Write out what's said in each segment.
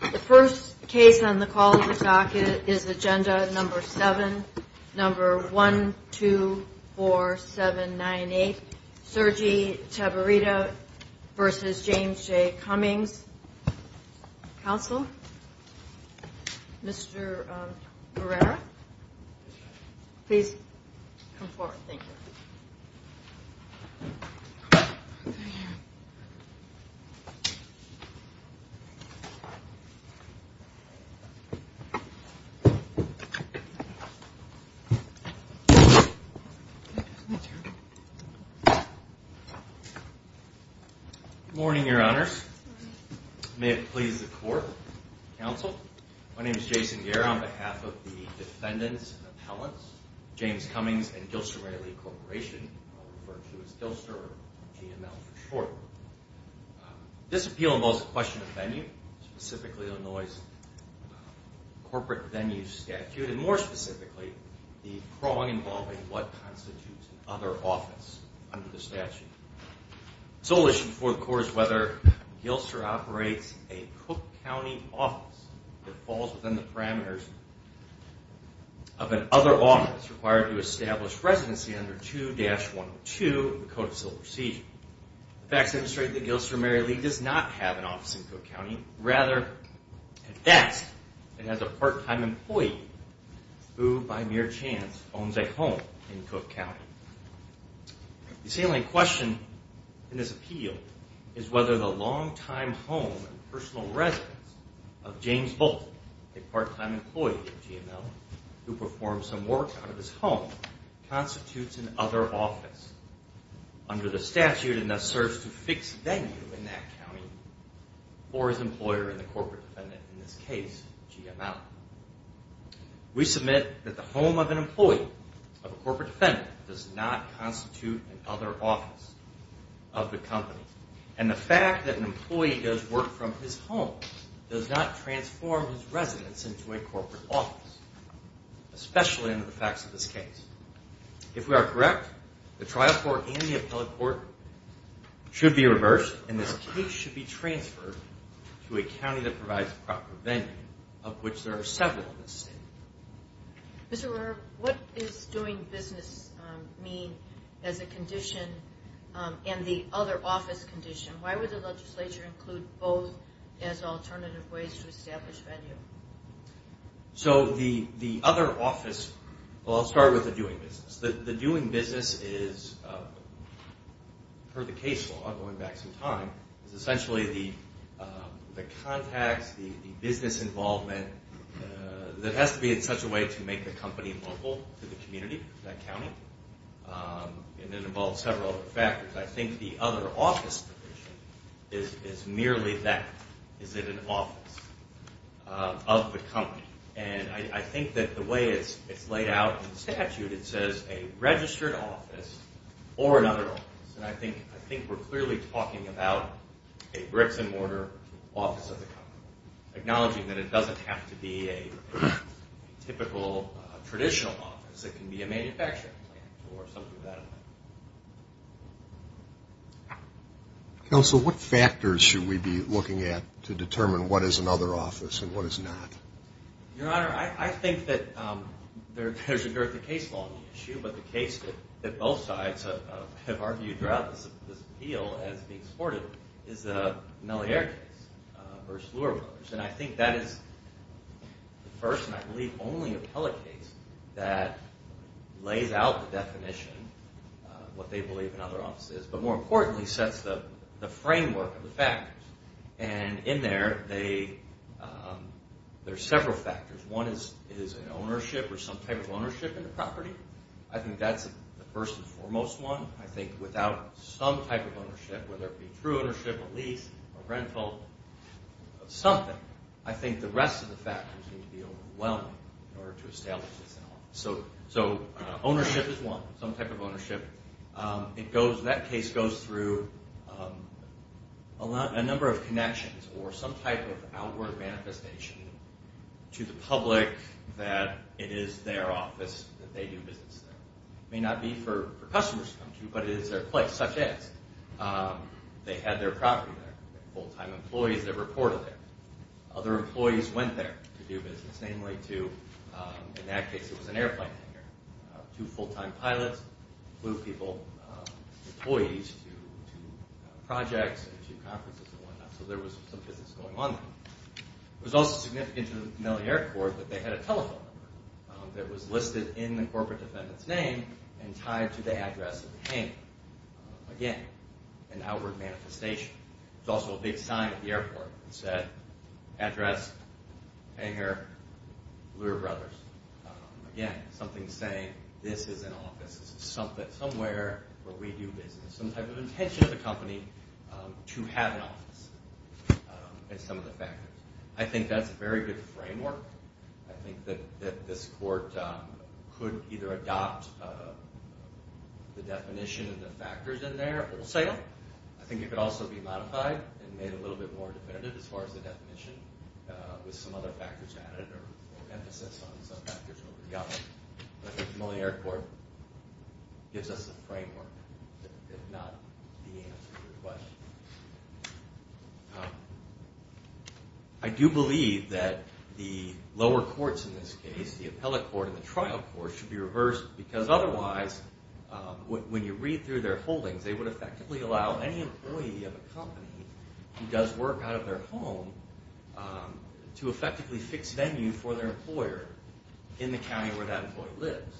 The first case on the call of the docket is agenda number 7, number 124798, Sergi Tabirta v. James J. Cummings. Counsel, Mr. Barrera, please come forward. Good morning, your honors. May it please the court. Counsel, my name is Jason Guerra on behalf of the defendants and appellants, James Cummings and Gilson Railey Corporation, I'll refer to as GILSER or GML for short. This appeal involves the question of venue, specifically Illinois' corporate venue statute, and more specifically the prong involving what constitutes an other office under the statute. The sole issue before the court is whether GILSER operates a Cook County office that falls within the parameters of an other office required to establish residency under 2-102 of the Code of Civil Procedure. The facts demonstrate that GILSER merely does not have an office in Cook County. Rather, it does. It has a part-time employee who by mere chance owns a home in Cook County. The salient question in this appeal is whether the long-time home and personal residence of James Bolton, a part-time employee of GML who performs some work out of his home, constitutes an other office under the statute and thus serves to fix venue in that county for his employer and the corporate defendant, in this case, GML. We submit that the home of an employee, of a corporate defendant, does not constitute an other office of the company. And the fact that an employee does work from his home does not transform his residence into a corporate office, especially under the facts of this case. If we are correct, the trial court and the appellate court should be reversed and this case should be transferred to a county that provides proper venue, of which there are several in this state. Mr. Rohrer, what does doing business mean as a condition and the other office condition? Why would the legislature include both as alternative ways to establish venue? I'll start with the doing business. The doing business is, per the case law, going back some time, is essentially the contacts, the business involvement that has to be in such a way to make the company local to the community, that county. And it involves several factors. I think the other office condition is merely that. Is it an office of the company? And I think that the way it's laid out in the statute, it says a registered office or an other office. And I think we're clearly talking about a bricks and mortar office of the company, acknowledging that it doesn't have to be a typical traditional office. It can be a manufacturing plant or something of that nature. Counsel, what factors should we be looking at to determine what is an other office and what is not? Your Honor, I think that there's a dearth of case law on the issue, but the case that both sides have argued throughout this appeal as being supportive is the Mellier case versus Luer Brothers. And I think that is the first and, I believe, only appellate case that lays out the definition of what they believe an other office is, but more importantly sets the framework of the factors. And in there, there's several factors. One is an ownership or some type of ownership in the property. I think that's the first and foremost one. I think without some type of ownership, whether it be true ownership, a lease, a rental, something, I think the rest of the factors seem to be overwhelming in order to establish this in an office. So ownership is one, some type of ownership. That case goes through a number of connections or some type of outward manifestation to the public that it is their office that they do business there. It may not be for customers to come to, but it is their place, such as they had their property there, full-time employees that reported there. Other employees went there to do business, namely to, in that case, it was an airplane hangar. Two full-time pilots flew people, employees, to projects and to conferences and whatnot. So there was some business going on there. It was also significant to the familiar court that they had a telephone number that was listed in the corporate defendant's name and tied to the address of the hangar. Again, an outward manifestation. It was also a big sign at the airport. It said, address, hangar, Leuer Brothers. Again, something saying, this is an office. This is somewhere where we do business. Some type of intention of the company to have an office is some of the factors. I think that's a very good framework. I think that this court could either adopt the definition of the factors in there wholesale. I think it could also be modified and made a little bit more definitive as far as the definition with some other factors added or emphasis on some factors. But the familiar court gives us a framework, if not the answer to your question. I do believe that the lower courts in this case, the appellate court and the trial court, should be reversed because otherwise, when you read through their holdings, they would effectively allow any employee of a company who does work out of their home to effectively fix venue for their employer in the county where that employee lives.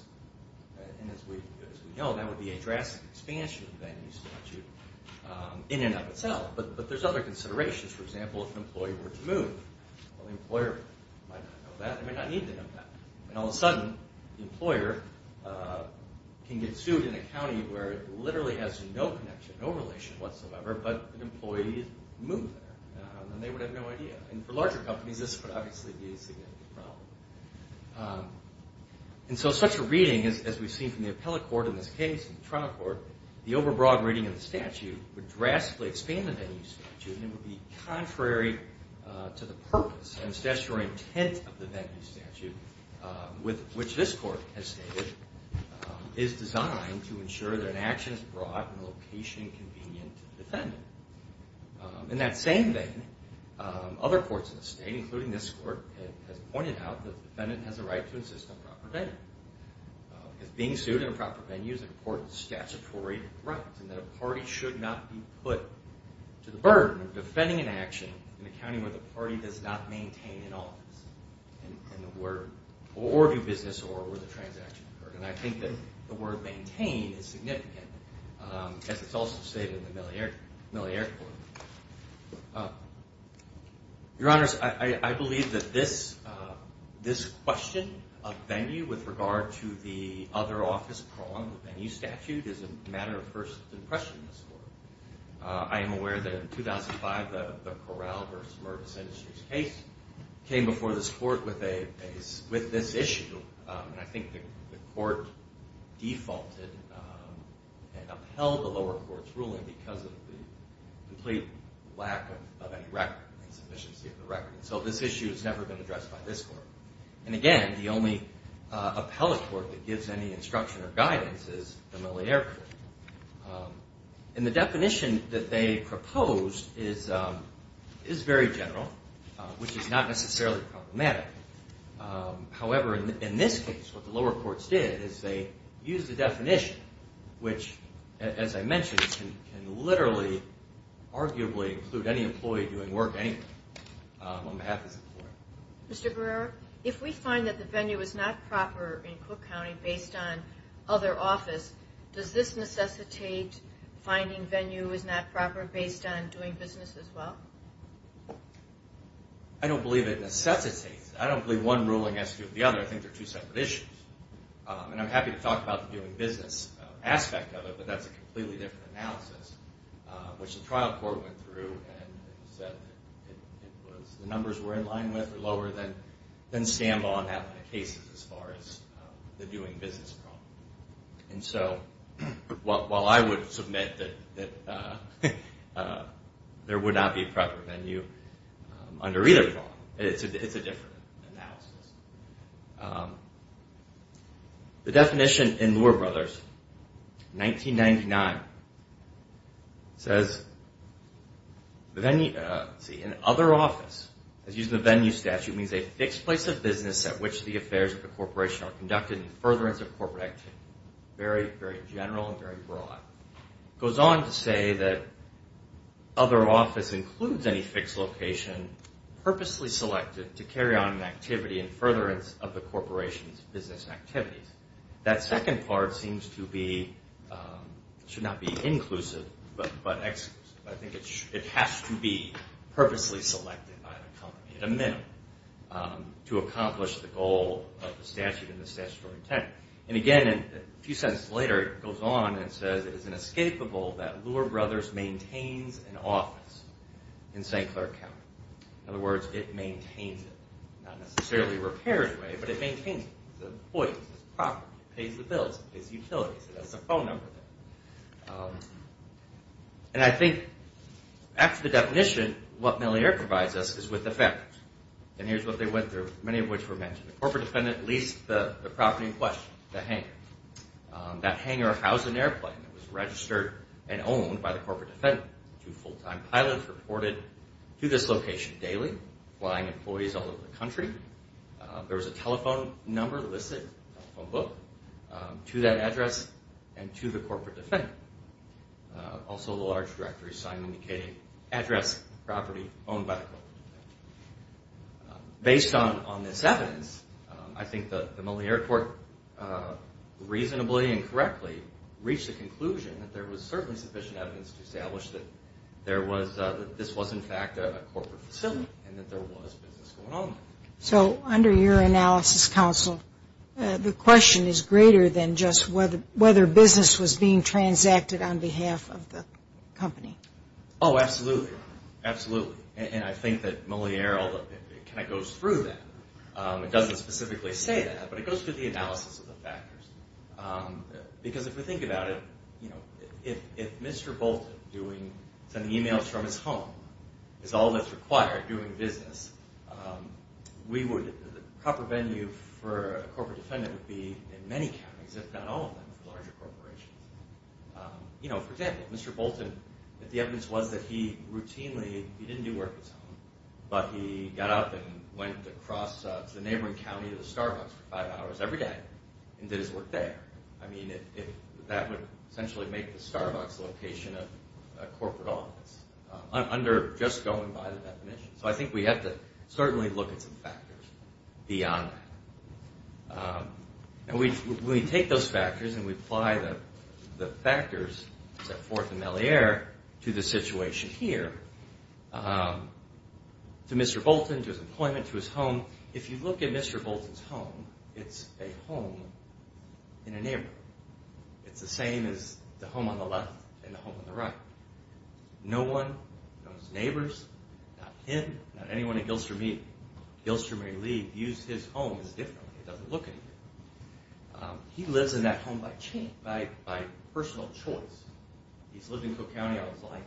As we know, that would be a drastic expansion of the venue statute in and of itself. But there's other considerations. For example, if an employee were to move, the employer might not know that. They might not need to know that. All of a sudden, the employer can get sued in a county where it literally has no connection, no relation whatsoever, but an employee moved there. They would have no idea. For larger companies, this would obviously be a significant problem. And so such a reading, as we've seen from the appellate court in this case and the trial court, the overbroad reading of the statute would drastically expand the venue statute and it would be contrary to the purpose and statutory intent of the venue statute, which this court has stated is designed to ensure that an action is brought in a location convenient to the defendant. In that same vein, other courts in the state, including this court, has pointed out that the defendant has a right to insist on proper venue. If being sued in a proper venue is an important statutory right and that a party should not be put to the burden of defending an action in a county where the party does not maintain an office or do business or where the transaction occurred. And I think that the word maintain is significant, as it's also stated in the Millier Court. Your Honors, I believe that this question of venue with regard to the other office prong, the venue statute, is a matter of first impression in this court. I am aware that in 2005, the Corral v. Mervis Industries case came before this court with this issue, and I think the court defaulted and upheld the lower court's ruling because of the complete lack of any record and sufficiency of the record. So this issue has never been addressed by this court. And again, the only appellate court that gives any instruction or guidance is the Millier Court. And the definition that they proposed is very general, which is not necessarily problematic. However, in this case, what the lower courts did is they used the definition, which, as I mentioned, can literally, arguably, include any employee doing work anywhere on behalf of this employee. Mr. Guerrero, if we find that the venue is not proper in Cook County based on other office, does this necessitate finding venue is not proper based on doing business as well? I don't believe it necessitates. I don't believe one ruling has to do with the other. I think they're two separate issues. And I'm happy to talk about the doing business aspect of it, but that's a completely different analysis, which the trial court went through and said the numbers were in line with or lower than stand-alone appellate cases as far as the doing business problem. And so while I would submit that there would not be a proper venue under either problem, it's a different analysis. The definition in Luer Brothers, 1999, says in other office, as used in the venue statute, means a fixed place of business at which the affairs of the corporation are conducted in furtherance of corporate activity. Very, very general and very broad. It goes on to say that other office includes any fixed location purposely selected to carry on an activity in furtherance of the corporation's business activities. That second part seems to be, should not be inclusive, but I think it has to be purposely selected by the company at a minimum to accomplish the goal of the statute and the statutory intent. And again, a few sentences later, it goes on and says it is inescapable that Luer Brothers maintains an office in St. Clair County. In other words, it maintains it. Not necessarily a repaired way, but it maintains it. It's an employee. It's a property. It pays the bills. It pays utilities. It has a phone number. And I think after the definition, what Mellier provides us is with the fact. And here's what they went through, many of which were mentioned. The corporate defendant leased the property in question, the hangar. That hangar housed an airplane that was registered and owned by the corporate defendant. Two full-time pilots reported to this location daily, flying employees all over the country. There was a telephone number listed in the telephone book to that address and to the corporate defendant. Also a large directory sign indicating address, property owned by the corporate defendant. Based on this evidence, I think the Mellier Court reasonably and correctly reached the conclusion that there was certainly sufficient evidence to establish that this was in fact a corporate facility and that there was business going on there. So under your analysis, counsel, the question is greater than just whether business was being transacted on behalf of the company. Oh, absolutely. Absolutely. And I think that Mellier goes through that. It doesn't specifically say that, but it goes through the analysis of the factors. Because if we think about it, if Mr. Bolton is sending emails from his home, is all that's required doing business, the proper venue for a corporate defendant would be in many counties, if not all of them, for larger corporations. You know, for example, Mr. Bolton, the evidence was that he routinely, he didn't do work at his home, but he got up and went across to the neighboring county to the Starbucks for five hours every day and did his work there. I mean, that would essentially make the Starbucks location a corporate office under just going by the definition. So I think we have to certainly look at some factors beyond that. And we take those factors and we apply the factors set forth in Mellier to the situation here. To Mr. Bolton, to his employment, to his home, if you look at Mr. Bolton's home, it's a home in a neighborhood. It's the same as the home on the left and the home on the right. No one, no neighbors, not him, not anyone in Gilstermere League, views his home as different. It doesn't look any different. He lives in that home by personal choice. He's lived in Cook County, I would say,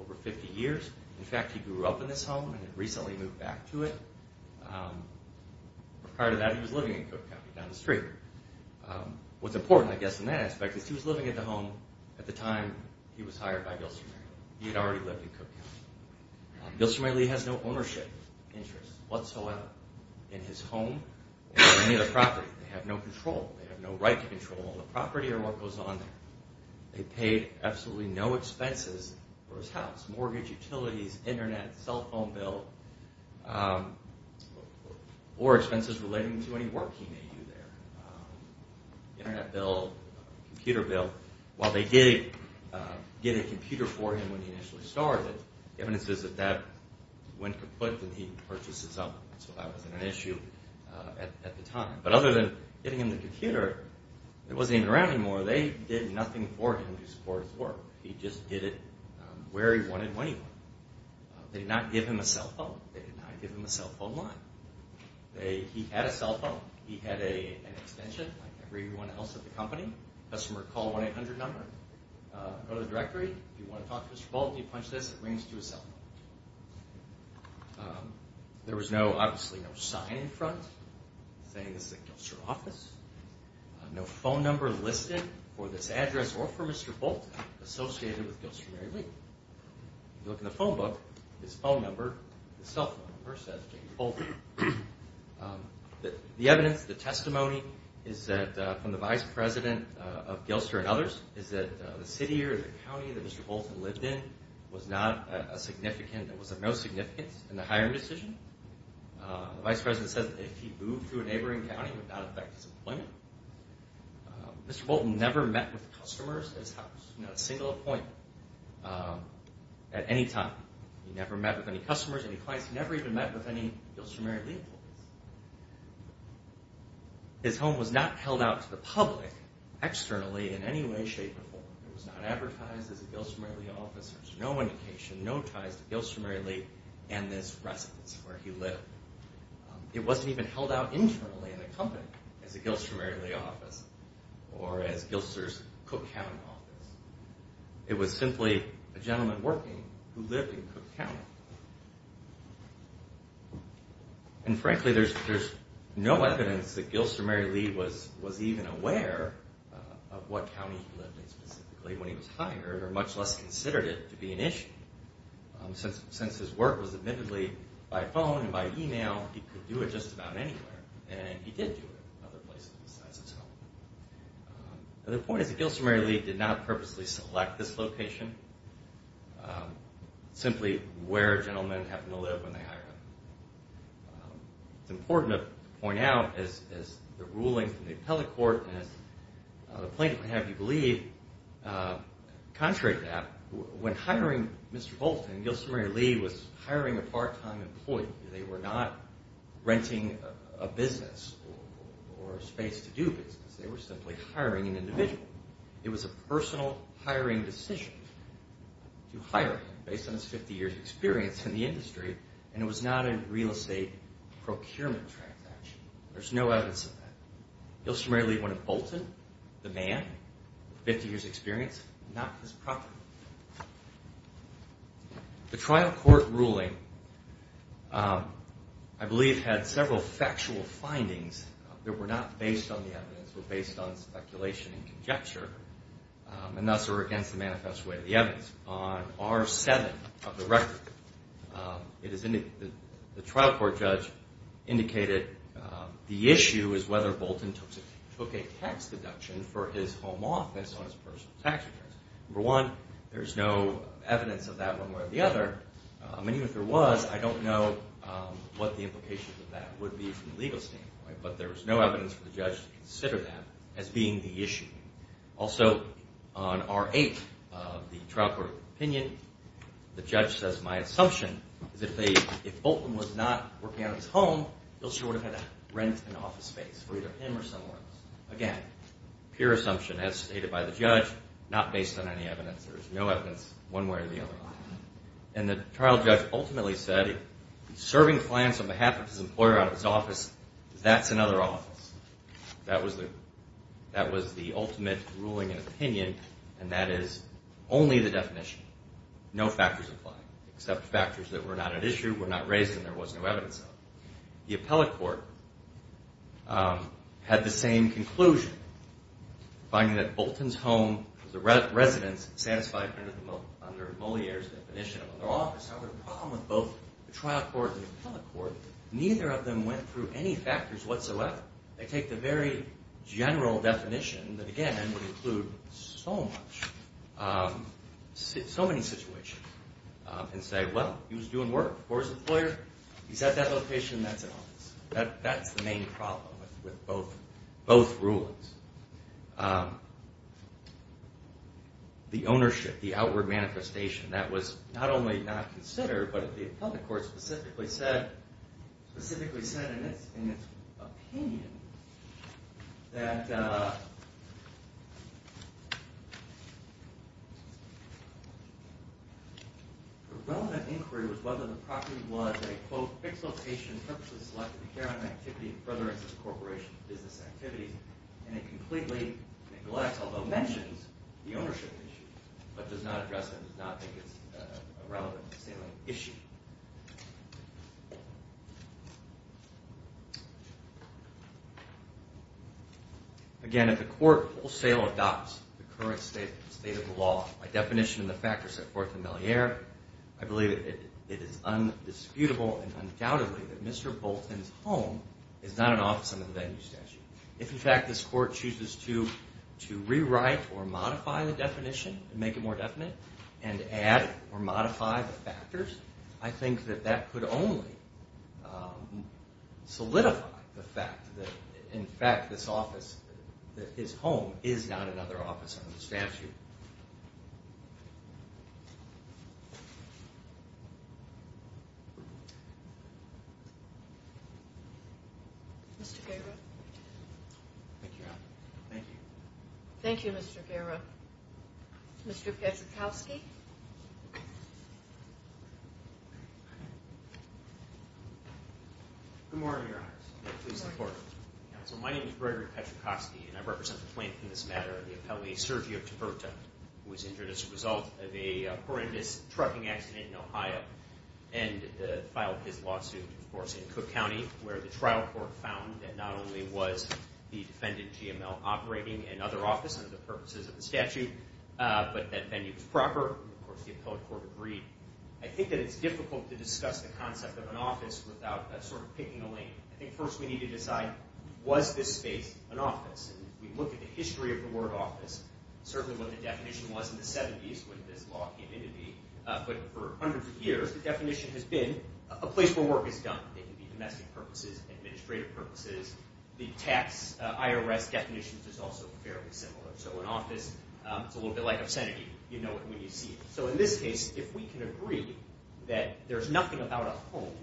over 50 years. In fact, he grew up in this home and recently moved back to it. Prior to that, he was living in Cook County down the street. What's important, I guess, in that aspect is he was living in the home at the time he was hired by Gilstermere. He had already lived in Cook County. Gilstermere League has no ownership interests whatsoever in his home or any of the property. They have no control. They have no right to control the property or what goes on there. They paid absolutely no expenses for his house, mortgage, utilities, internet, cell phone bill. Or expenses relating to any work he may do there. Internet bill, computer bill. While they did get a computer for him when he initially started, the evidence is that that went kaput when he purchased his own. So that was an issue at the time. But other than getting him the computer, it wasn't even around anymore. They did nothing for him to support his work. He just did it where he wanted and when he wanted. They did not give him a cell phone. They did not give him a cell phone line. He had a cell phone. He had an extension like everyone else at the company. Customer call 1-800 number. Go to the directory. If you want to talk to Mr. Bolton, you punch this. It brings you to his cell phone. There was obviously no sign in front saying this is a Gilster office. No phone number listed for this address or for Mr. Bolton associated with Gilster & Mary Lee. If you look in the phone book, his phone number, his cell phone number says J.B. Bolton. The evidence, the testimony is that from the vice president of Gilster & others is that the city or the county that Mr. Bolton lived in was not a significant, was of no significance in the hiring decision. The vice president says that if he moved to a neighboring county, it would not affect his employment. Mr. Bolton never met with customers at his house. Not a single appointment at any time. He never met with any customers, any clients. He never even met with any Gilster & Mary Lee employees. His home was not held out to the public externally in any way, shape, or form. It was not advertised as a Gilster & Mary Lee office. There was no indication, no ties to Gilster & Mary Lee and this residence where he lived. It wasn't even held out internally in the company as a Gilster & Mary Lee office or as Gilster's Cook County office. It was simply a gentleman working who lived in Cook County. And frankly, there's no evidence that Gilster & Mary Lee was even aware of what county he lived in specifically when he was hired or much less considered it to be an issue. Since his work was admittedly by phone and by email, he could do it just about anywhere. And he did do it in other places besides his home. The point is that Gilster & Mary Lee did not purposely select this location, simply where a gentleman happened to live when they hired him. It's important to point out as the ruling from the appellate court and the plaintiff may have you believe, contrary to that, when hiring Mr. Bolton, Gilster & Mary Lee was hiring a part-time employee. They were not renting a business or a space to do business. They were simply hiring an individual. It was a personal hiring decision to hire him based on his 50 years experience in the industry and it was not a real estate procurement transaction. There's no evidence of that. Gilster & Mary Lee wanted Bolton, the man, 50 years experience, not his property. The trial court ruling, I believe, had several factual findings that were not based on the evidence but based on speculation and conjecture and thus are against the manifest way of the evidence. On R7 of the record, the trial court judge indicated the issue is whether Bolton took a tax deduction for his home office on his personal tax returns. Number one, there's no evidence of that one way or the other. Even if there was, I don't know what the implications of that would be from a legal standpoint, but there's no evidence for the judge to consider that as being the issue. Also, on R8 of the trial court opinion, the judge says my assumption is if Bolton was not working on his home, he would have had to rent an office space for either him or someone else. Again, pure assumption as stated by the judge, not based on any evidence. There's no evidence one way or the other. And the trial judge ultimately said if he's serving clients on behalf of his employer out of his office, that's another office. That was the ultimate ruling and opinion, and that is only the definition. No factors apply except factors that were not at issue, were not raised, and there was no evidence of. The appellate court had the same conclusion, finding that Bolton's home was a residence satisfied under Moliere's definition of an office. Now, the problem with both the trial court and the appellate court, neither of them went through any factors whatsoever. They take the very general definition that, again, would include so many situations and say, well, he was doing work for his employer. He's at that location, that's an office. That's the main problem with both rulings. The ownership, the outward manifestation, that was not only not considered, but the appellate court specifically said in its opinion that the relevant inquiry was whether the property was a, quote, completely neglects, although mentions, the ownership issues, but does not address them, does not think it's a relevant salient issue. Again, if the court wholesale adopts the current state of the law by definition and the factors set forth in Moliere, I believe it is undisputable and undoubtedly that Mr. Bolton's home is not an office under the venue statute. If, in fact, this court chooses to rewrite or modify the definition and make it more definite and add or modify the factors, I think that that could only solidify the fact that, in fact, this office, that his home is not another office under the statute. Thank you. Mr. Guerra? Thank you, Your Honor. Thank you. Thank you, Mr. Guerra. Mr. Petrukowski? Good morning, Your Honor. My name is Gregory Petrukowski, and I represent the plaintiff in this matter, the appellee Sergio Taberta, who was injured as a result of a horrendous trucking accident in Ohio and filed his lawsuit, of course, in Cook County, where the trial court found that not only was the defendant, GML, operating another office under the purposes of the statute, but that venue was proper, and, of course, the appellate court agreed. I think that it's difficult to discuss the concept of an office without sort of picking a lane. I think first we need to decide, was this space an office? And if we look at the history of the word office, certainly what the definition was in the 70s when this law came into being, but for hundreds of years, the definition has been a place where work is done. It can be domestic purposes, administrative purposes. The tax IRS definition is also fairly similar. So an office is a little bit like obscenity. You know it when you see it. So in this case, if we can agree that there's nothing about a home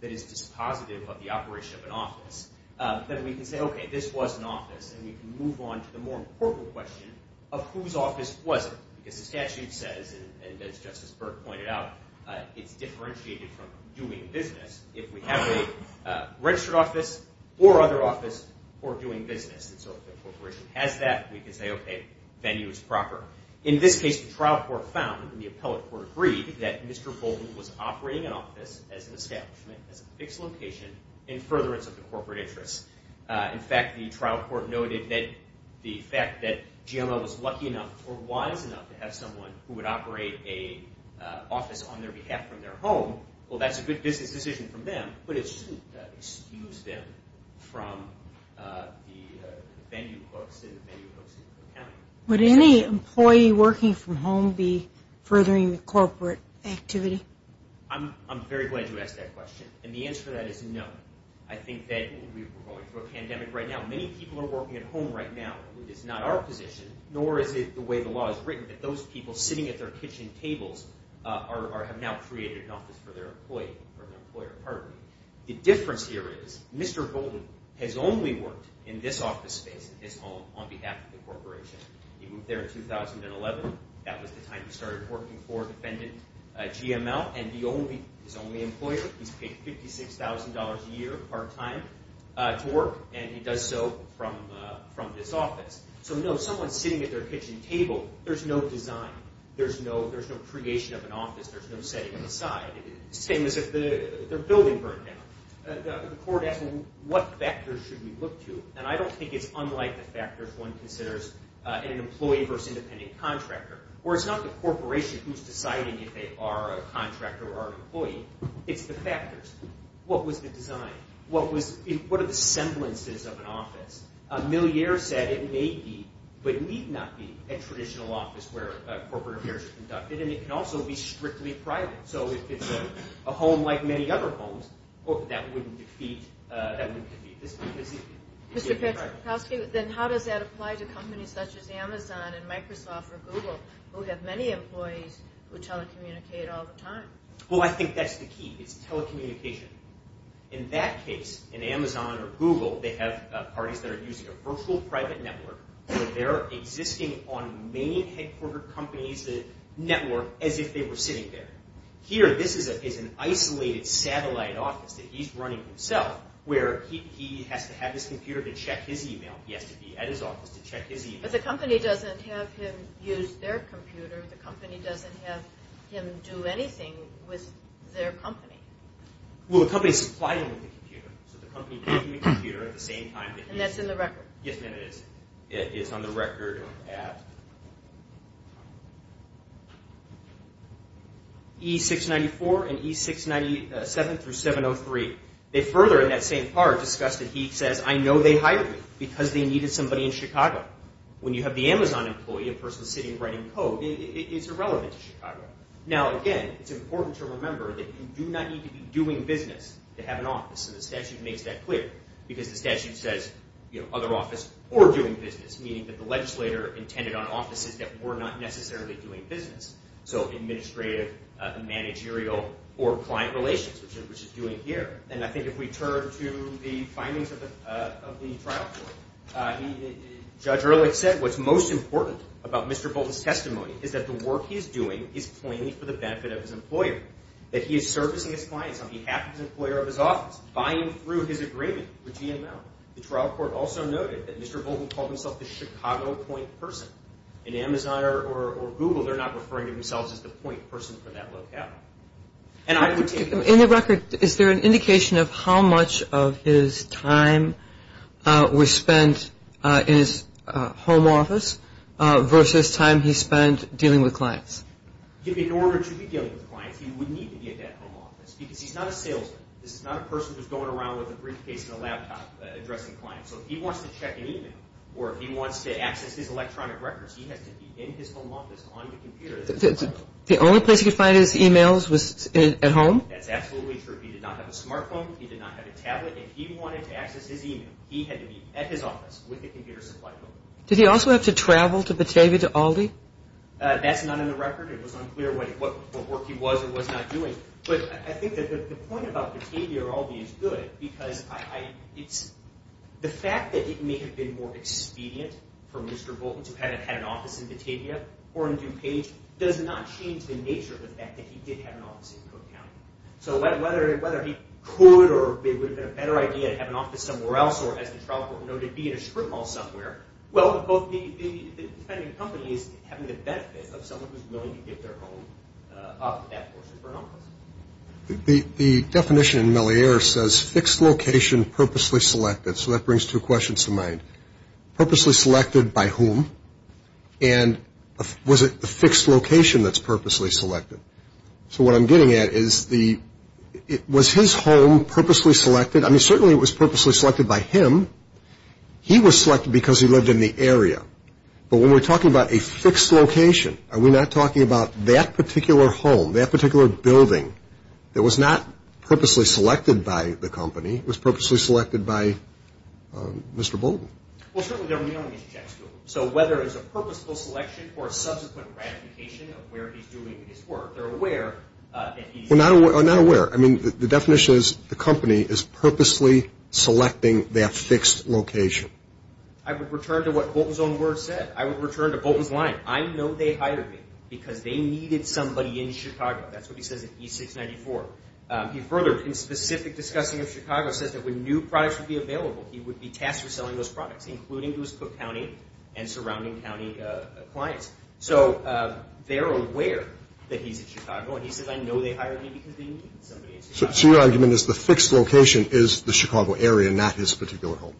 that is dispositive of the operation of an office, then we can say, OK, this was an office, and we can move on to the more important question of whose office was it? Because the statute says, and as Justice Burke pointed out, it's differentiated from doing business. If we have a registered office or other office for doing business, and so if the corporation has that, we can say, OK, venue is proper. In this case, the trial court found, and the appellate court agreed, that Mr. Bolden was operating an office as an establishment, as a fixed location, in furtherance of the corporate interests. In fact, the trial court noted that the fact that GMO was lucky enough or wise enough to have someone who would operate an office on their behalf from their home, well, that's a good business decision from them, but it shouldn't excuse them from the venue folks and the venue folks in the county. Would any employee working from home be furthering the corporate activity? I'm very glad you asked that question, and the answer to that is no. I think that we're going through a pandemic right now. Many people are working at home right now. It is not our position, nor is it the way the law is written, that those people sitting at their kitchen tables have now created an office for their employee or an employer, pardon me. The difference here is Mr. Bolden has only worked in this office space, in this home, on behalf of the corporation. He moved there in 2011. That was the time he started working for defendant GMO, and he's the only employer. He's paid $56,000 a year part-time to work, and he does so from this office. So no, someone sitting at their kitchen table, there's no design. There's no creation of an office. There's no setting on the side. It's the same as if their building burned down. The court asked what factors should we look to, and I don't think it's unlike the factors one considers in an employee versus independent contractor, or it's not the corporation who's deciding if they are a contractor or an employee. It's the factors. What was the design? What are the semblances of an office? Millier said it may be but need not be a traditional office where corporate affairs are conducted, and it can also be strictly private. So if it's a home like many other homes, that wouldn't defeat this because it's strictly private. Mr. Paczkowski, then how does that apply to companies such as Amazon and Microsoft or Google, who have many employees who telecommunicate all the time? Well, I think that's the key is telecommunication. In that case, in Amazon or Google, they have parties that are using a virtual private network, so they're existing on the main headquarter company's network as if they were sitting there. Here, this is an isolated satellite office that he's running himself where he has to have his computer to check his e-mail. He has to be at his office to check his e-mail. But the company doesn't have him use their computer. The company doesn't have him do anything with their company. Well, the company supplied him with the computer, so the company gave him the computer at the same time. And that's in the record. Yes, ma'am, it is. It's on the record at E694 and E697 through 703. They further in that same part discuss that he says, I know they hired me because they needed somebody in Chicago. When you have the Amazon employee in person sitting writing code, it's irrelevant to Chicago. Now, again, it's important to remember that you do not need to be doing business to have an office, and the statute makes that clear because the statute says other office or doing business, meaning that the legislator intended on offices that were not necessarily doing business, so administrative, managerial, or client relations, which is doing here. And I think if we turn to the findings of the trial court, Judge Ehrlich said what's most important about Mr. Bolton's testimony is that the work he is doing is plainly for the benefit of his employer, that he is servicing his clients on behalf of his employer of his office, buying through his agreement with GML. The trial court also noted that Mr. Bolton called himself the Chicago point person. In Amazon or Google, they're not referring to themselves as the point person for that locale. In the record, is there an indication of how much of his time was spent in his home office versus time he spent dealing with clients? If in order to be dealing with clients, he would need to be at that home office because he's not a salesman. This is not a person who's going around with a briefcase and a laptop addressing clients. So if he wants to check an email or if he wants to access his electronic records, he has to be in his home office on the computer. The only place he could find his emails was at home? That's absolutely true. He did not have a smartphone. He did not have a tablet. If he wanted to access his email, he had to be at his office with a computer supply code. Did he also have to travel to Batavia to Aldi? That's not in the record. It was unclear what work he was or was not doing. But I think that the point about Batavia or Aldi is good because the fact that it may have been more expedient for Mr. Bolton to have had an office in Batavia or in DuPage does not change the nature of the fact that he did have an office in Cook County. So whether he could or it would have been a better idea to have an office somewhere else or, as the trial court noted, be in a strip mall somewhere, well, depending on the company, it's having the benefit of someone who's willing to give their home up to that person for an office. The definition in Mellier says fixed location, purposely selected. So that brings two questions to mind. Purposely selected by whom? And was it the fixed location that's purposely selected? So what I'm getting at is was his home purposely selected? I mean, certainly it was purposely selected by him. He was selected because he lived in the area. But when we're talking about a fixed location, are we not talking about that particular home, that particular building that was not purposely selected by the company? It was purposely selected by Mr. Bolton. Well, certainly they're mailing these checks to him. So whether it's a purposeful selection or a subsequent ratification of where he's doing his work, they're aware that he's… Well, not aware. I mean, the definition is the company is purposely selecting their fixed location. I would return to what Bolton's own words said. I would return to Bolton's line. I know they hired me because they needed somebody in Chicago. That's what he says in E694. He further, in specific discussing of Chicago, says that when new products would be available, he would be tasked with selling those products, including to his Cook County and surrounding county clients. So they're aware that he's in Chicago. And he says, I know they hired me because they needed somebody in Chicago. So your argument is the fixed location is the Chicago area, not his particular home?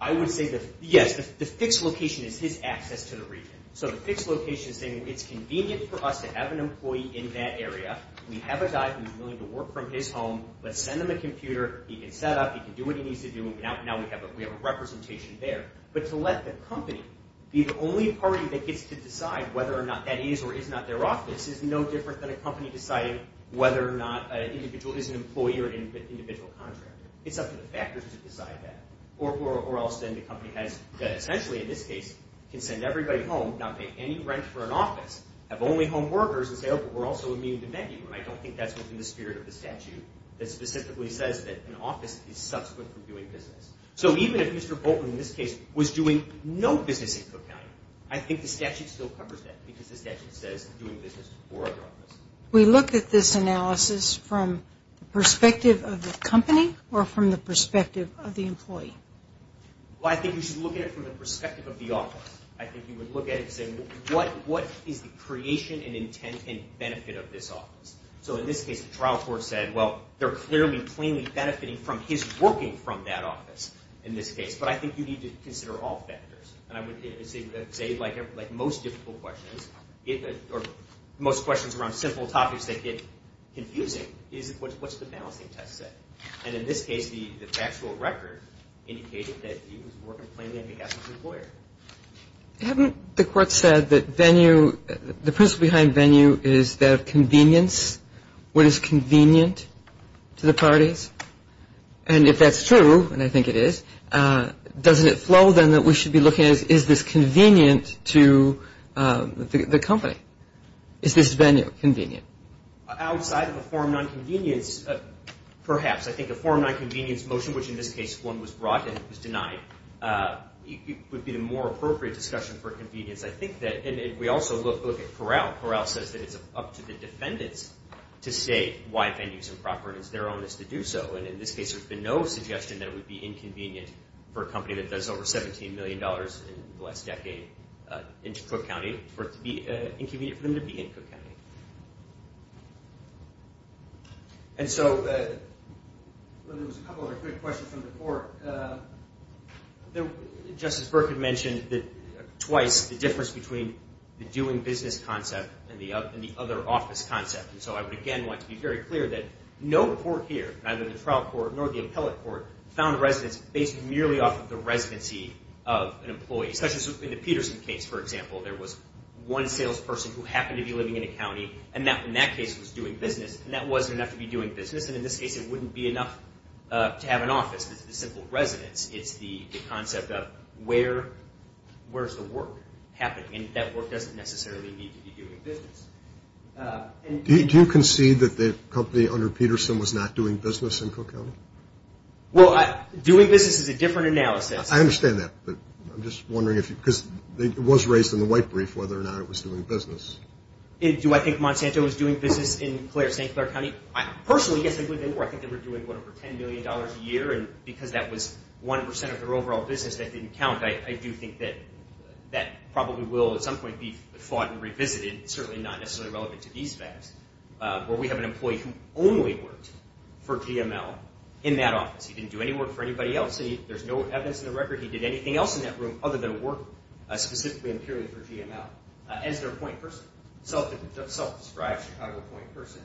I would say that, yes, the fixed location is his access to the region. So the fixed location is saying it's convenient for us to have an employee in that area. We have a guy who's willing to work from his home. Let's send him a computer. He can set up. He can do what he needs to do. Now we have a representation there. But to let the company be the only party that gets to decide whether or not that is or is not their office is no different than a company deciding whether or not an individual is an employee or an individual contractor. It's up to the factors to decide that. Or else then the company has, essentially in this case, can send everybody home, not pay any rent for an office, have only home workers, and say, oh, but we're also immune to venue. And I don't think that's within the spirit of the statute that specifically says that an office is subsequent from doing business. So even if Mr. Bolton, in this case, was doing no business in Cook County, I think the statute still covers that because the statute says doing business for the office. We look at this analysis from the perspective of the company or from the perspective of the employee? Well, I think you should look at it from the perspective of the office. I think you would look at it and say, what is the creation and intent and benefit of this office? So in this case, the trial court said, well, they're clearly, plainly benefiting from his working from that office in this case. But I think you need to consider all factors. And I would say, like most difficult questions, or most questions around simple topics that get confusing, is what's the balancing test say? And in this case, the factual record indicated that he was working plainly as an employee. Haven't the court said that venue, the principle behind venue is that of convenience? What is convenient to the parties? And if that's true, and I think it is, doesn't it flow then that we should be looking at is this convenient to the company? Is this venue convenient? Outside of a form of nonconvenience, perhaps. I think a form of nonconvenience motion, which in this case, one was brought and it was denied, would be the more appropriate discussion for convenience. I think that, and we also look at Corral. Corral says that it's up to the defendants to say why venues are improper, and it's their onus to do so. And in this case, there's been no suggestion that it would be inconvenient for a company that does over $17 million in the last decade in Cook County, for it to be inconvenient for them to be in Cook County. And so, there was a couple other quick questions from the court. Justice Berkman mentioned twice the difference between the doing business concept and the other office concept. And so I would again like to be very clear that no court here, neither the trial court nor the appellate court, found the residence based merely off of the residency of an employee. Especially in the Peterson case, for example, there was one salesperson who happened to be living in a county, and in that case was doing business, and that wasn't enough to be doing business. And in this case, it wouldn't be enough to have an office. It's the simple residence. It's the concept of where is the work happening? And that work doesn't necessarily need to be doing business. Do you concede that the company under Peterson was not doing business in Cook County? Well, doing business is a different analysis. I understand that, but I'm just wondering if you – because it was raised in the white brief whether or not it was doing business. Do I think Monsanto was doing business in St. Clair County? Personally, yes, I believe they were. I think they were doing, what, over $10 million a year, and because that was 1% of their overall business, that didn't count. I do think that that probably will at some point be fought and revisited. It's certainly not necessarily relevant to these facts. But we have an employee who only worked for GML in that office. He didn't do any work for anybody else. There's no evidence in the record he did anything else in that room other than work specifically and purely for GML as their point person, self-described Chicago point person.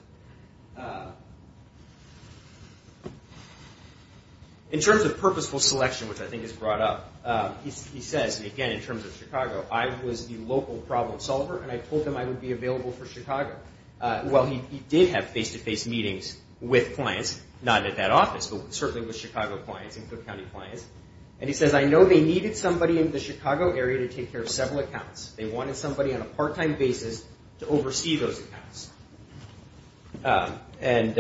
In terms of purposeful selection, which I think is brought up, he says, again, in terms of Chicago, I was the local problem solver, and I told them I would be available for Chicago. Well, he did have face-to-face meetings with clients, not at that office, but certainly with Chicago clients and Cook County clients. And he says, I know they needed somebody in the Chicago area to take care of several accounts. They wanted somebody on a part-time basis to oversee those accounts, and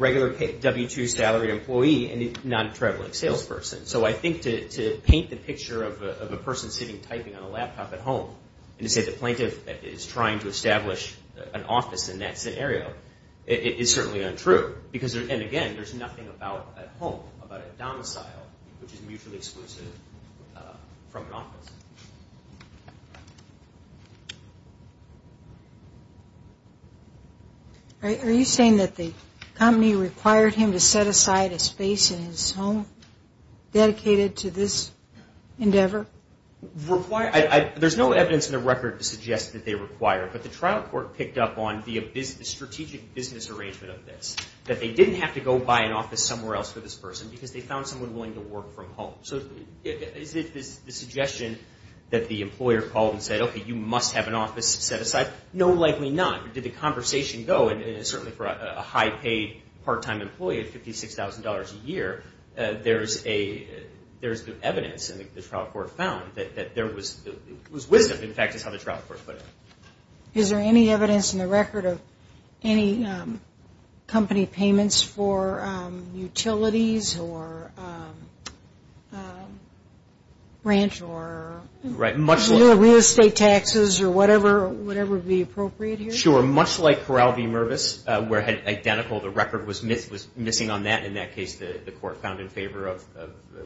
regular W-2 salary employee and non-traveling salesperson. So I think to paint the picture of a person sitting typing on a laptop at home and to say the plaintiff is trying to establish an office in that scenario is certainly untrue. And, again, there's nothing about a home, about a domicile, which is mutually exclusive from an office. Are you saying that the company required him to set aside a space in his home dedicated to this endeavor? There's no evidence in the record to suggest that they required, but the trial court picked up on the strategic business arrangement of this, that they didn't have to go buy an office somewhere else for this person because they found someone willing to work from home. So is it the suggestion that the employer called and said, okay, you must have an office set aside? No, likely not. But did the conversation go, and certainly for a high-paid part-time employee at $56,000 a year, there's evidence in the trial court found that there was wisdom, in fact, is how the trial court put it. Is there any evidence in the record of any company payments for utilities or ranch or real estate taxes or whatever would be appropriate here? Sure, much like Corral v. Mervis, where identical, the record was missing on that. In that case, the court found in favor of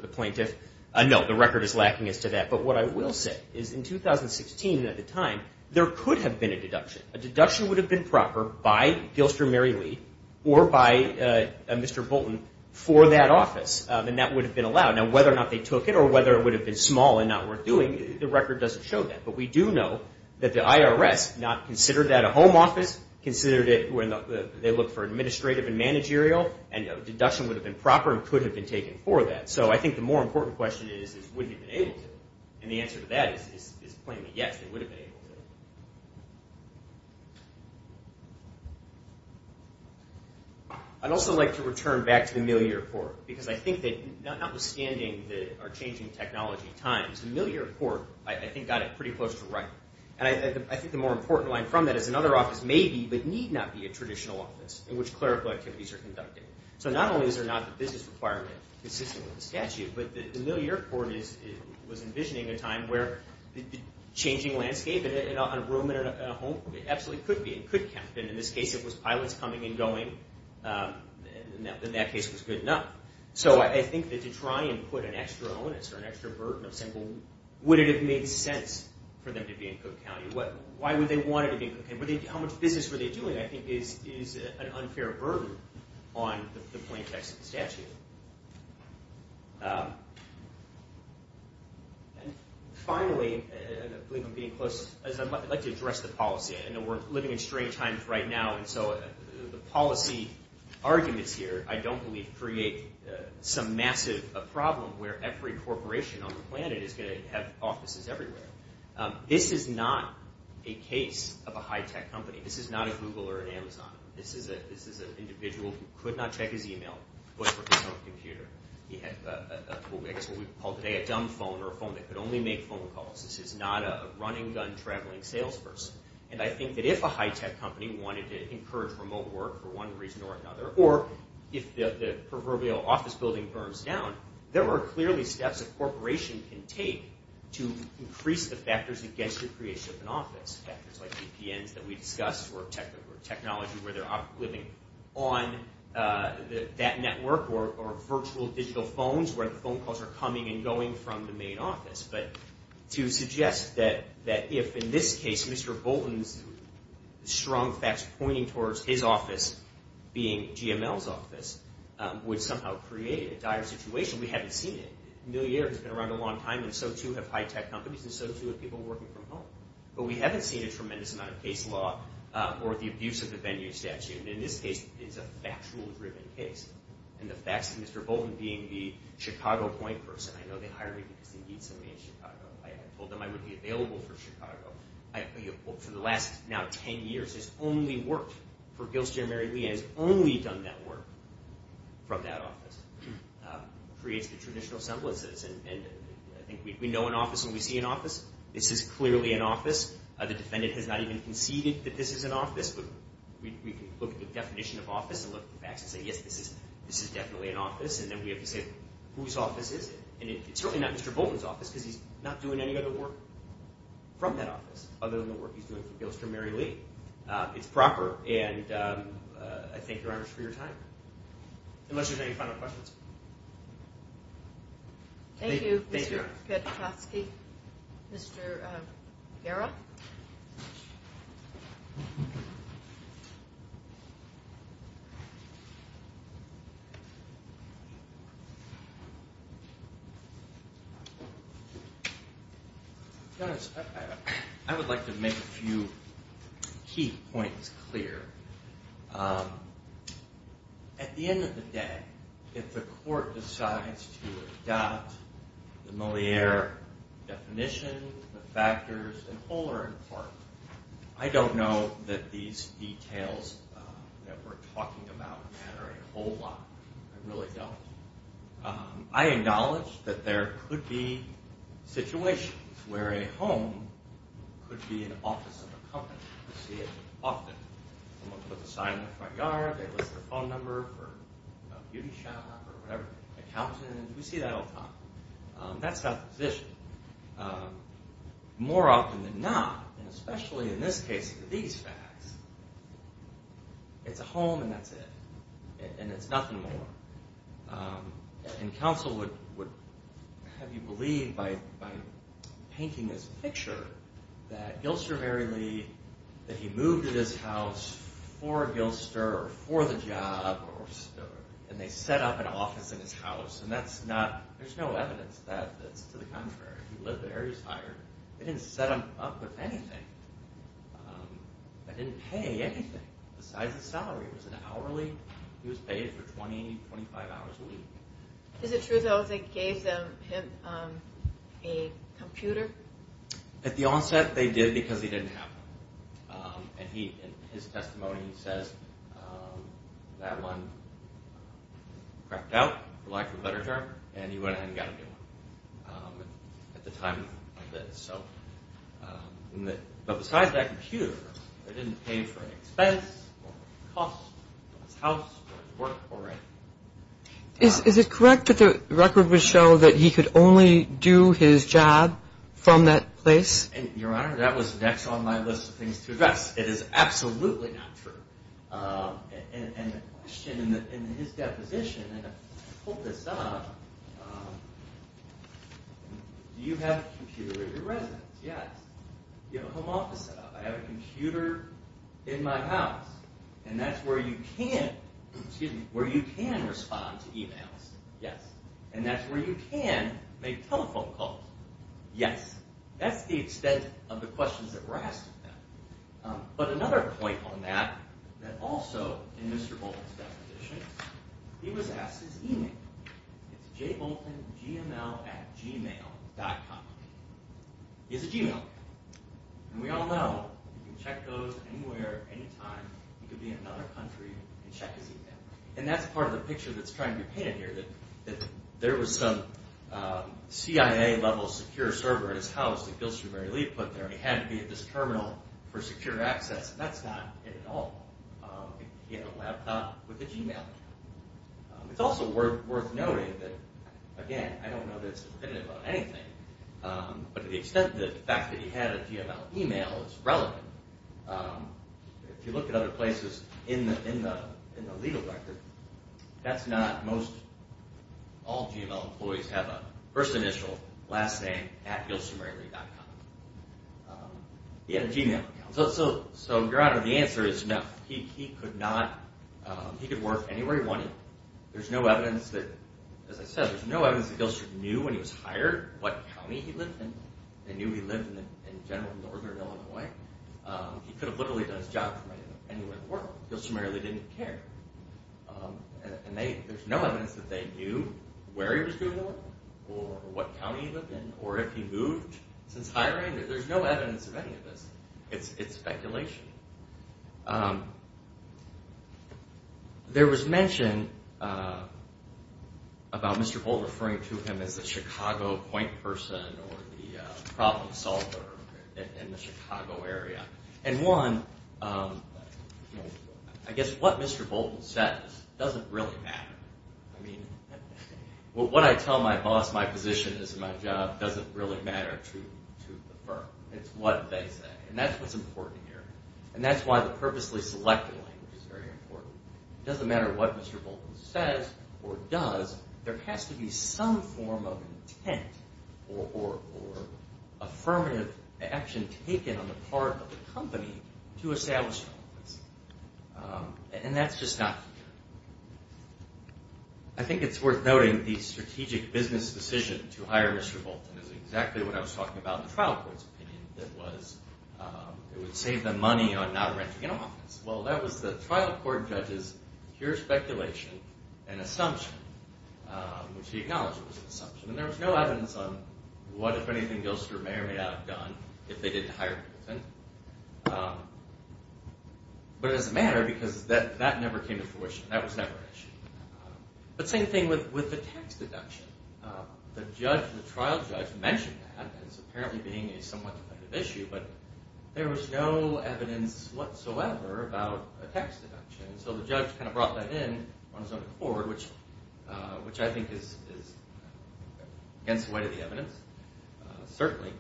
the plaintiff. No, the record is lacking as to that. But what I will say is in 2016 at the time, there could have been a deduction. A deduction would have been proper by Gilster Mary Lee or by Mr. Bolton for that office, and that would have been allowed. Now, whether or not they took it or whether it would have been small and not worth doing, the record doesn't show that. But we do know that the IRS not considered that a home office, considered it when they looked for administrative and managerial, and a deduction would have been proper and could have been taken for that. So I think the more important question is, would they have been able to? And the answer to that is plainly yes, they would have been able to. I'd also like to return back to the Milly Report, because I think that notwithstanding our changing technology times, the Milly Report, I think, got it pretty close to right. And I think the more important line from that is another office may be but need not be a traditional office in which clerical activities are conducted. So not only is there not the business requirement consistent with the statute, but the Milly Report was envisioning a time where the changing landscape on a room in a home absolutely could be, it could count, and in this case it was pilots coming and going, and in that case it was good enough. So I think that to try and put an extra onus or an extra burden of saying, well, would it have made sense for them to be in Cook County? And how much business were they doing, I think, is an unfair burden on the plain text of the statute. And finally, I believe I'm getting close, as I'd like to address the policy. I know we're living in strange times right now, and so the policy arguments here, I don't believe, create some massive problem where every corporation on the planet is going to have offices everywhere. This is not a case of a high-tech company. This is not a Google or an Amazon. This is an individual who could not check his e-mail but for his own computer. He had what we call today a dumb phone or a phone that could only make phone calls. This is not a run-and-gun traveling salesperson. And I think that if a high-tech company wanted to encourage remote work for one reason or another, or if the proverbial office building burns down, there are clearly steps a corporation can take to increase the factors against your creation of an office. Factors like VPNs that we discussed or technology where they're living on that network or virtual digital phones where the phone calls are coming and going from the main office. But to suggest that if, in this case, Mr. Bolton's strong facts pointing towards his office being GML's office, would somehow create a dire situation. We haven't seen it. Milliard has been around a long time, and so, too, have high-tech companies, and so, too, have people working from home. But we haven't seen a tremendous amount of case law or the abuse of the venue statute. And in this case, it's a factual-driven case. And the facts of Mr. Bolton being the Chicago point person, I know they hired me because they need somebody in Chicago. I told them I would be available for Chicago. For the last, now, ten years, his only work for Gilster and Mary Lee, and he's only done that work from that office, creates the traditional semblances. And I think we know an office when we see an office. This is clearly an office. The defendant has not even conceded that this is an office, but we can look at the definition of office and look at the facts and say, yes, this is definitely an office. And then we have to say, whose office is it? And it's certainly not Mr. Bolton's office because he's not doing any other work from that office other than the work he's doing for Gilster and Mary Lee. It's proper, and I thank Your Honors for your time. Unless there's any final questions. Thank you, Mr. Petrosky. Thank you, Mr. Guerra. Your Honors, I would like to make a few key points clear. At the end of the day, if the court decides to adopt the Moliere definition, the factors, and fuller in part, I don't know that these details that we're talking about matter a whole lot. I really don't. I acknowledge that there could be situations where a home could be an office of a company. We see it often. Someone puts a sign in the front yard, they list their phone number for a beauty shop or whatever, accountant, we see that all the time. That's not the position. More often than not, and especially in this case with these facts, it's a home and that's it. And it's nothing more. And counsel would have you believe by painting this picture that Gilster Mary Lee, that he moved to this house for Gilster or for the job, and they set up an office in his house. And that's not, there's no evidence that it's to the contrary. He lived there, he was hired. They didn't set him up with anything. They didn't pay anything besides his salary. It was an hourly. He was paid for 20, 25 hours a week. Is it true, though, that they gave him a computer? At the onset, they did because he didn't have one. And his testimony says that one cracked out, for lack of a better term, and he went ahead and got a new one at the time of this. But besides that computer, they didn't pay him for an expense or cost of his house or work or anything. Is it correct that the record would show that he could only do his job from that place? Your Honor, that was next on my list of things to address. It is absolutely not true. And the question in his deposition, and I pulled this up, do you have a computer at your residence? Yes. Do you have a home office set up? I have a computer in my house. And that's where you can respond to e-mails. Yes. And that's where you can make telephone calls. Yes. That's the extent of the questions that were asked of him. But another point on that, that also in Mr. Bolton's deposition, he was asked his e-mail. It's jboltongmail.com. He has a g-mail account. And we all know you can check those anywhere, anytime. You can be in another country and check his e-mail. And that's part of the picture that's trying to be painted here, that there was some CIA-level secure server in his house that Gilstermary Lee put there, and he had to be at this terminal for secure access. And that's not it at all. He had a laptop with a g-mail. It's also worth noting that, again, I don't know that it's definitive on anything, but to the extent that the fact that he had a g-mail e-mail is relevant, if you look at other places in the legal record, that's not most all g-mail employees have a first initial, last name, at gilstermarylee.com. He had a g-mail account. So, Gerardo, the answer is no. He could work anywhere he wanted. There's no evidence that, as I said, there's no evidence that Gilsterm knew when he was hired what county he lived in. They knew he lived in General Northern Illinois. He could have literally done his job from anywhere he worked. Gilstermary Lee didn't care. And there's no evidence that they knew where he was doing work or what county he lived in or if he moved since hiring. There's no evidence of any of this. It's speculation. There was mention about Mr. Holt referring to him as the Chicago point person or the problem solver in the Chicago area. And one, I guess what Mr. Bolton says doesn't really matter. I mean, when I tell my boss my position is my job, it doesn't really matter to the firm. It's what they say. And that's what's important here. And that's why the purposely selected language is very important. It doesn't matter what Mr. Bolton says or does. There has to be some form of intent or affirmative action taken on the part of the company to establish an office. And that's just not here. I think it's worth noting the strategic business decision to hire Mr. Bolton is exactly what I was talking about in the trial court's opinion, that was it would save them money on not renting an office. Well, that was the trial court judge's pure speculation and assumption, which he acknowledged was an assumption. And there was no evidence on what, if anything, Gilster may or may not have done if they didn't hire Bolton. But it doesn't matter because that never came to fruition. That was never an issue. But same thing with the tax deduction. The trial judge mentioned that as apparently being a somewhat definitive issue, but there was no evidence whatsoever about a tax deduction. So the judge kind of brought that in on his own accord, which I think is against the weight of the evidence, certainly.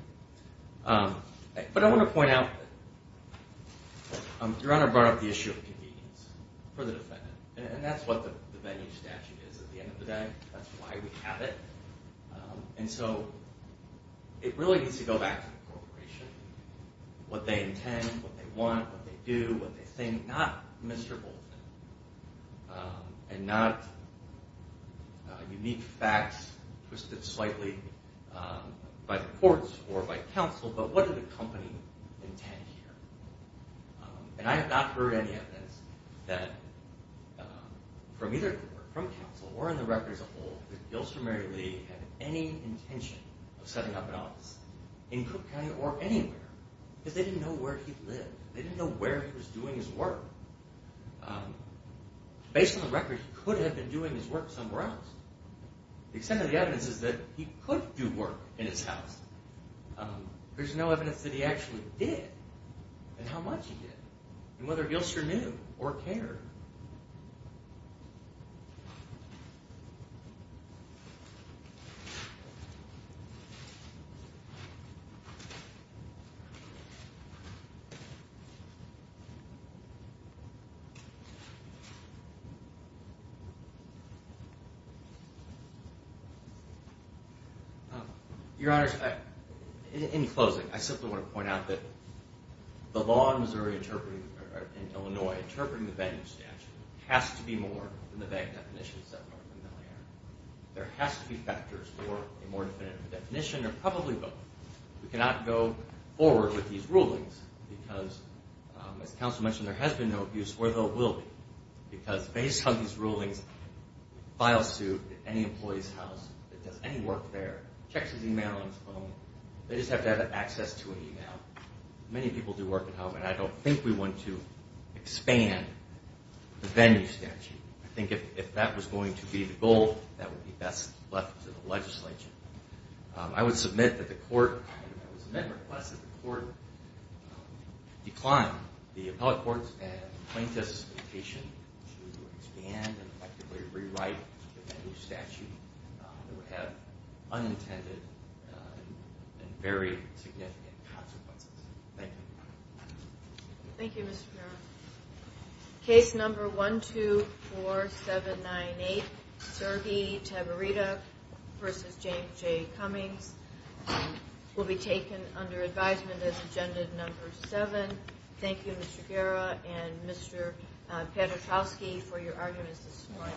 But I want to point out that Your Honor brought up the issue of convenience for the defendant, and that's what the venue statute is at the end of the day. That's why we have it. And so it really needs to go back to the corporation, what they intend, what they want, what they do, what they think, not Mr. Bolton and not unique facts twisted slightly by the courts or by counsel, but what did the company intend here? And I have not heard any evidence that from either the court, from counsel, or in the record as a whole that Gilster Mary Lee had any intention of setting up an office in Cook County or anywhere because they didn't know where he lived. They didn't know where he was doing his work. Based on the record, he could have been doing his work somewhere else. The extent of the evidence is that he could do work in his house. There's no evidence that he actually did and how much he did and whether Gilster knew or cared. Your Honor, in closing, I simply want to point out that the law in Missouri, or in Illinois, interpreting the venue statute has to be more than the bank definitions that we're familiar with. There has to be factors for a more definitive definition or probably both. We cannot go forward with these rulings because, as counsel mentioned, there has been no abuse, although it will be, because based on these rulings, files to any employee's house that does any work there, checks his e-mail on his phone. They just have to have access to an e-mail. Many people do work at home, and I don't think we want to expand the venue statute. I think if that was going to be the goal, that would be best left to the legislature. I would submit that the court declined the appellate court's and plaintiff's invitation to expand and effectively rewrite the venue statute. It would have unintended and very significant consequences. Thank you. Thank you, Mr. Farrell. Case number 124798, Sergey Tabarita v. James J. Cummings, will be taken under advisement as agenda number seven. Thank you, Mr. Guerra and Mr. Paduchowski, for your arguments this morning.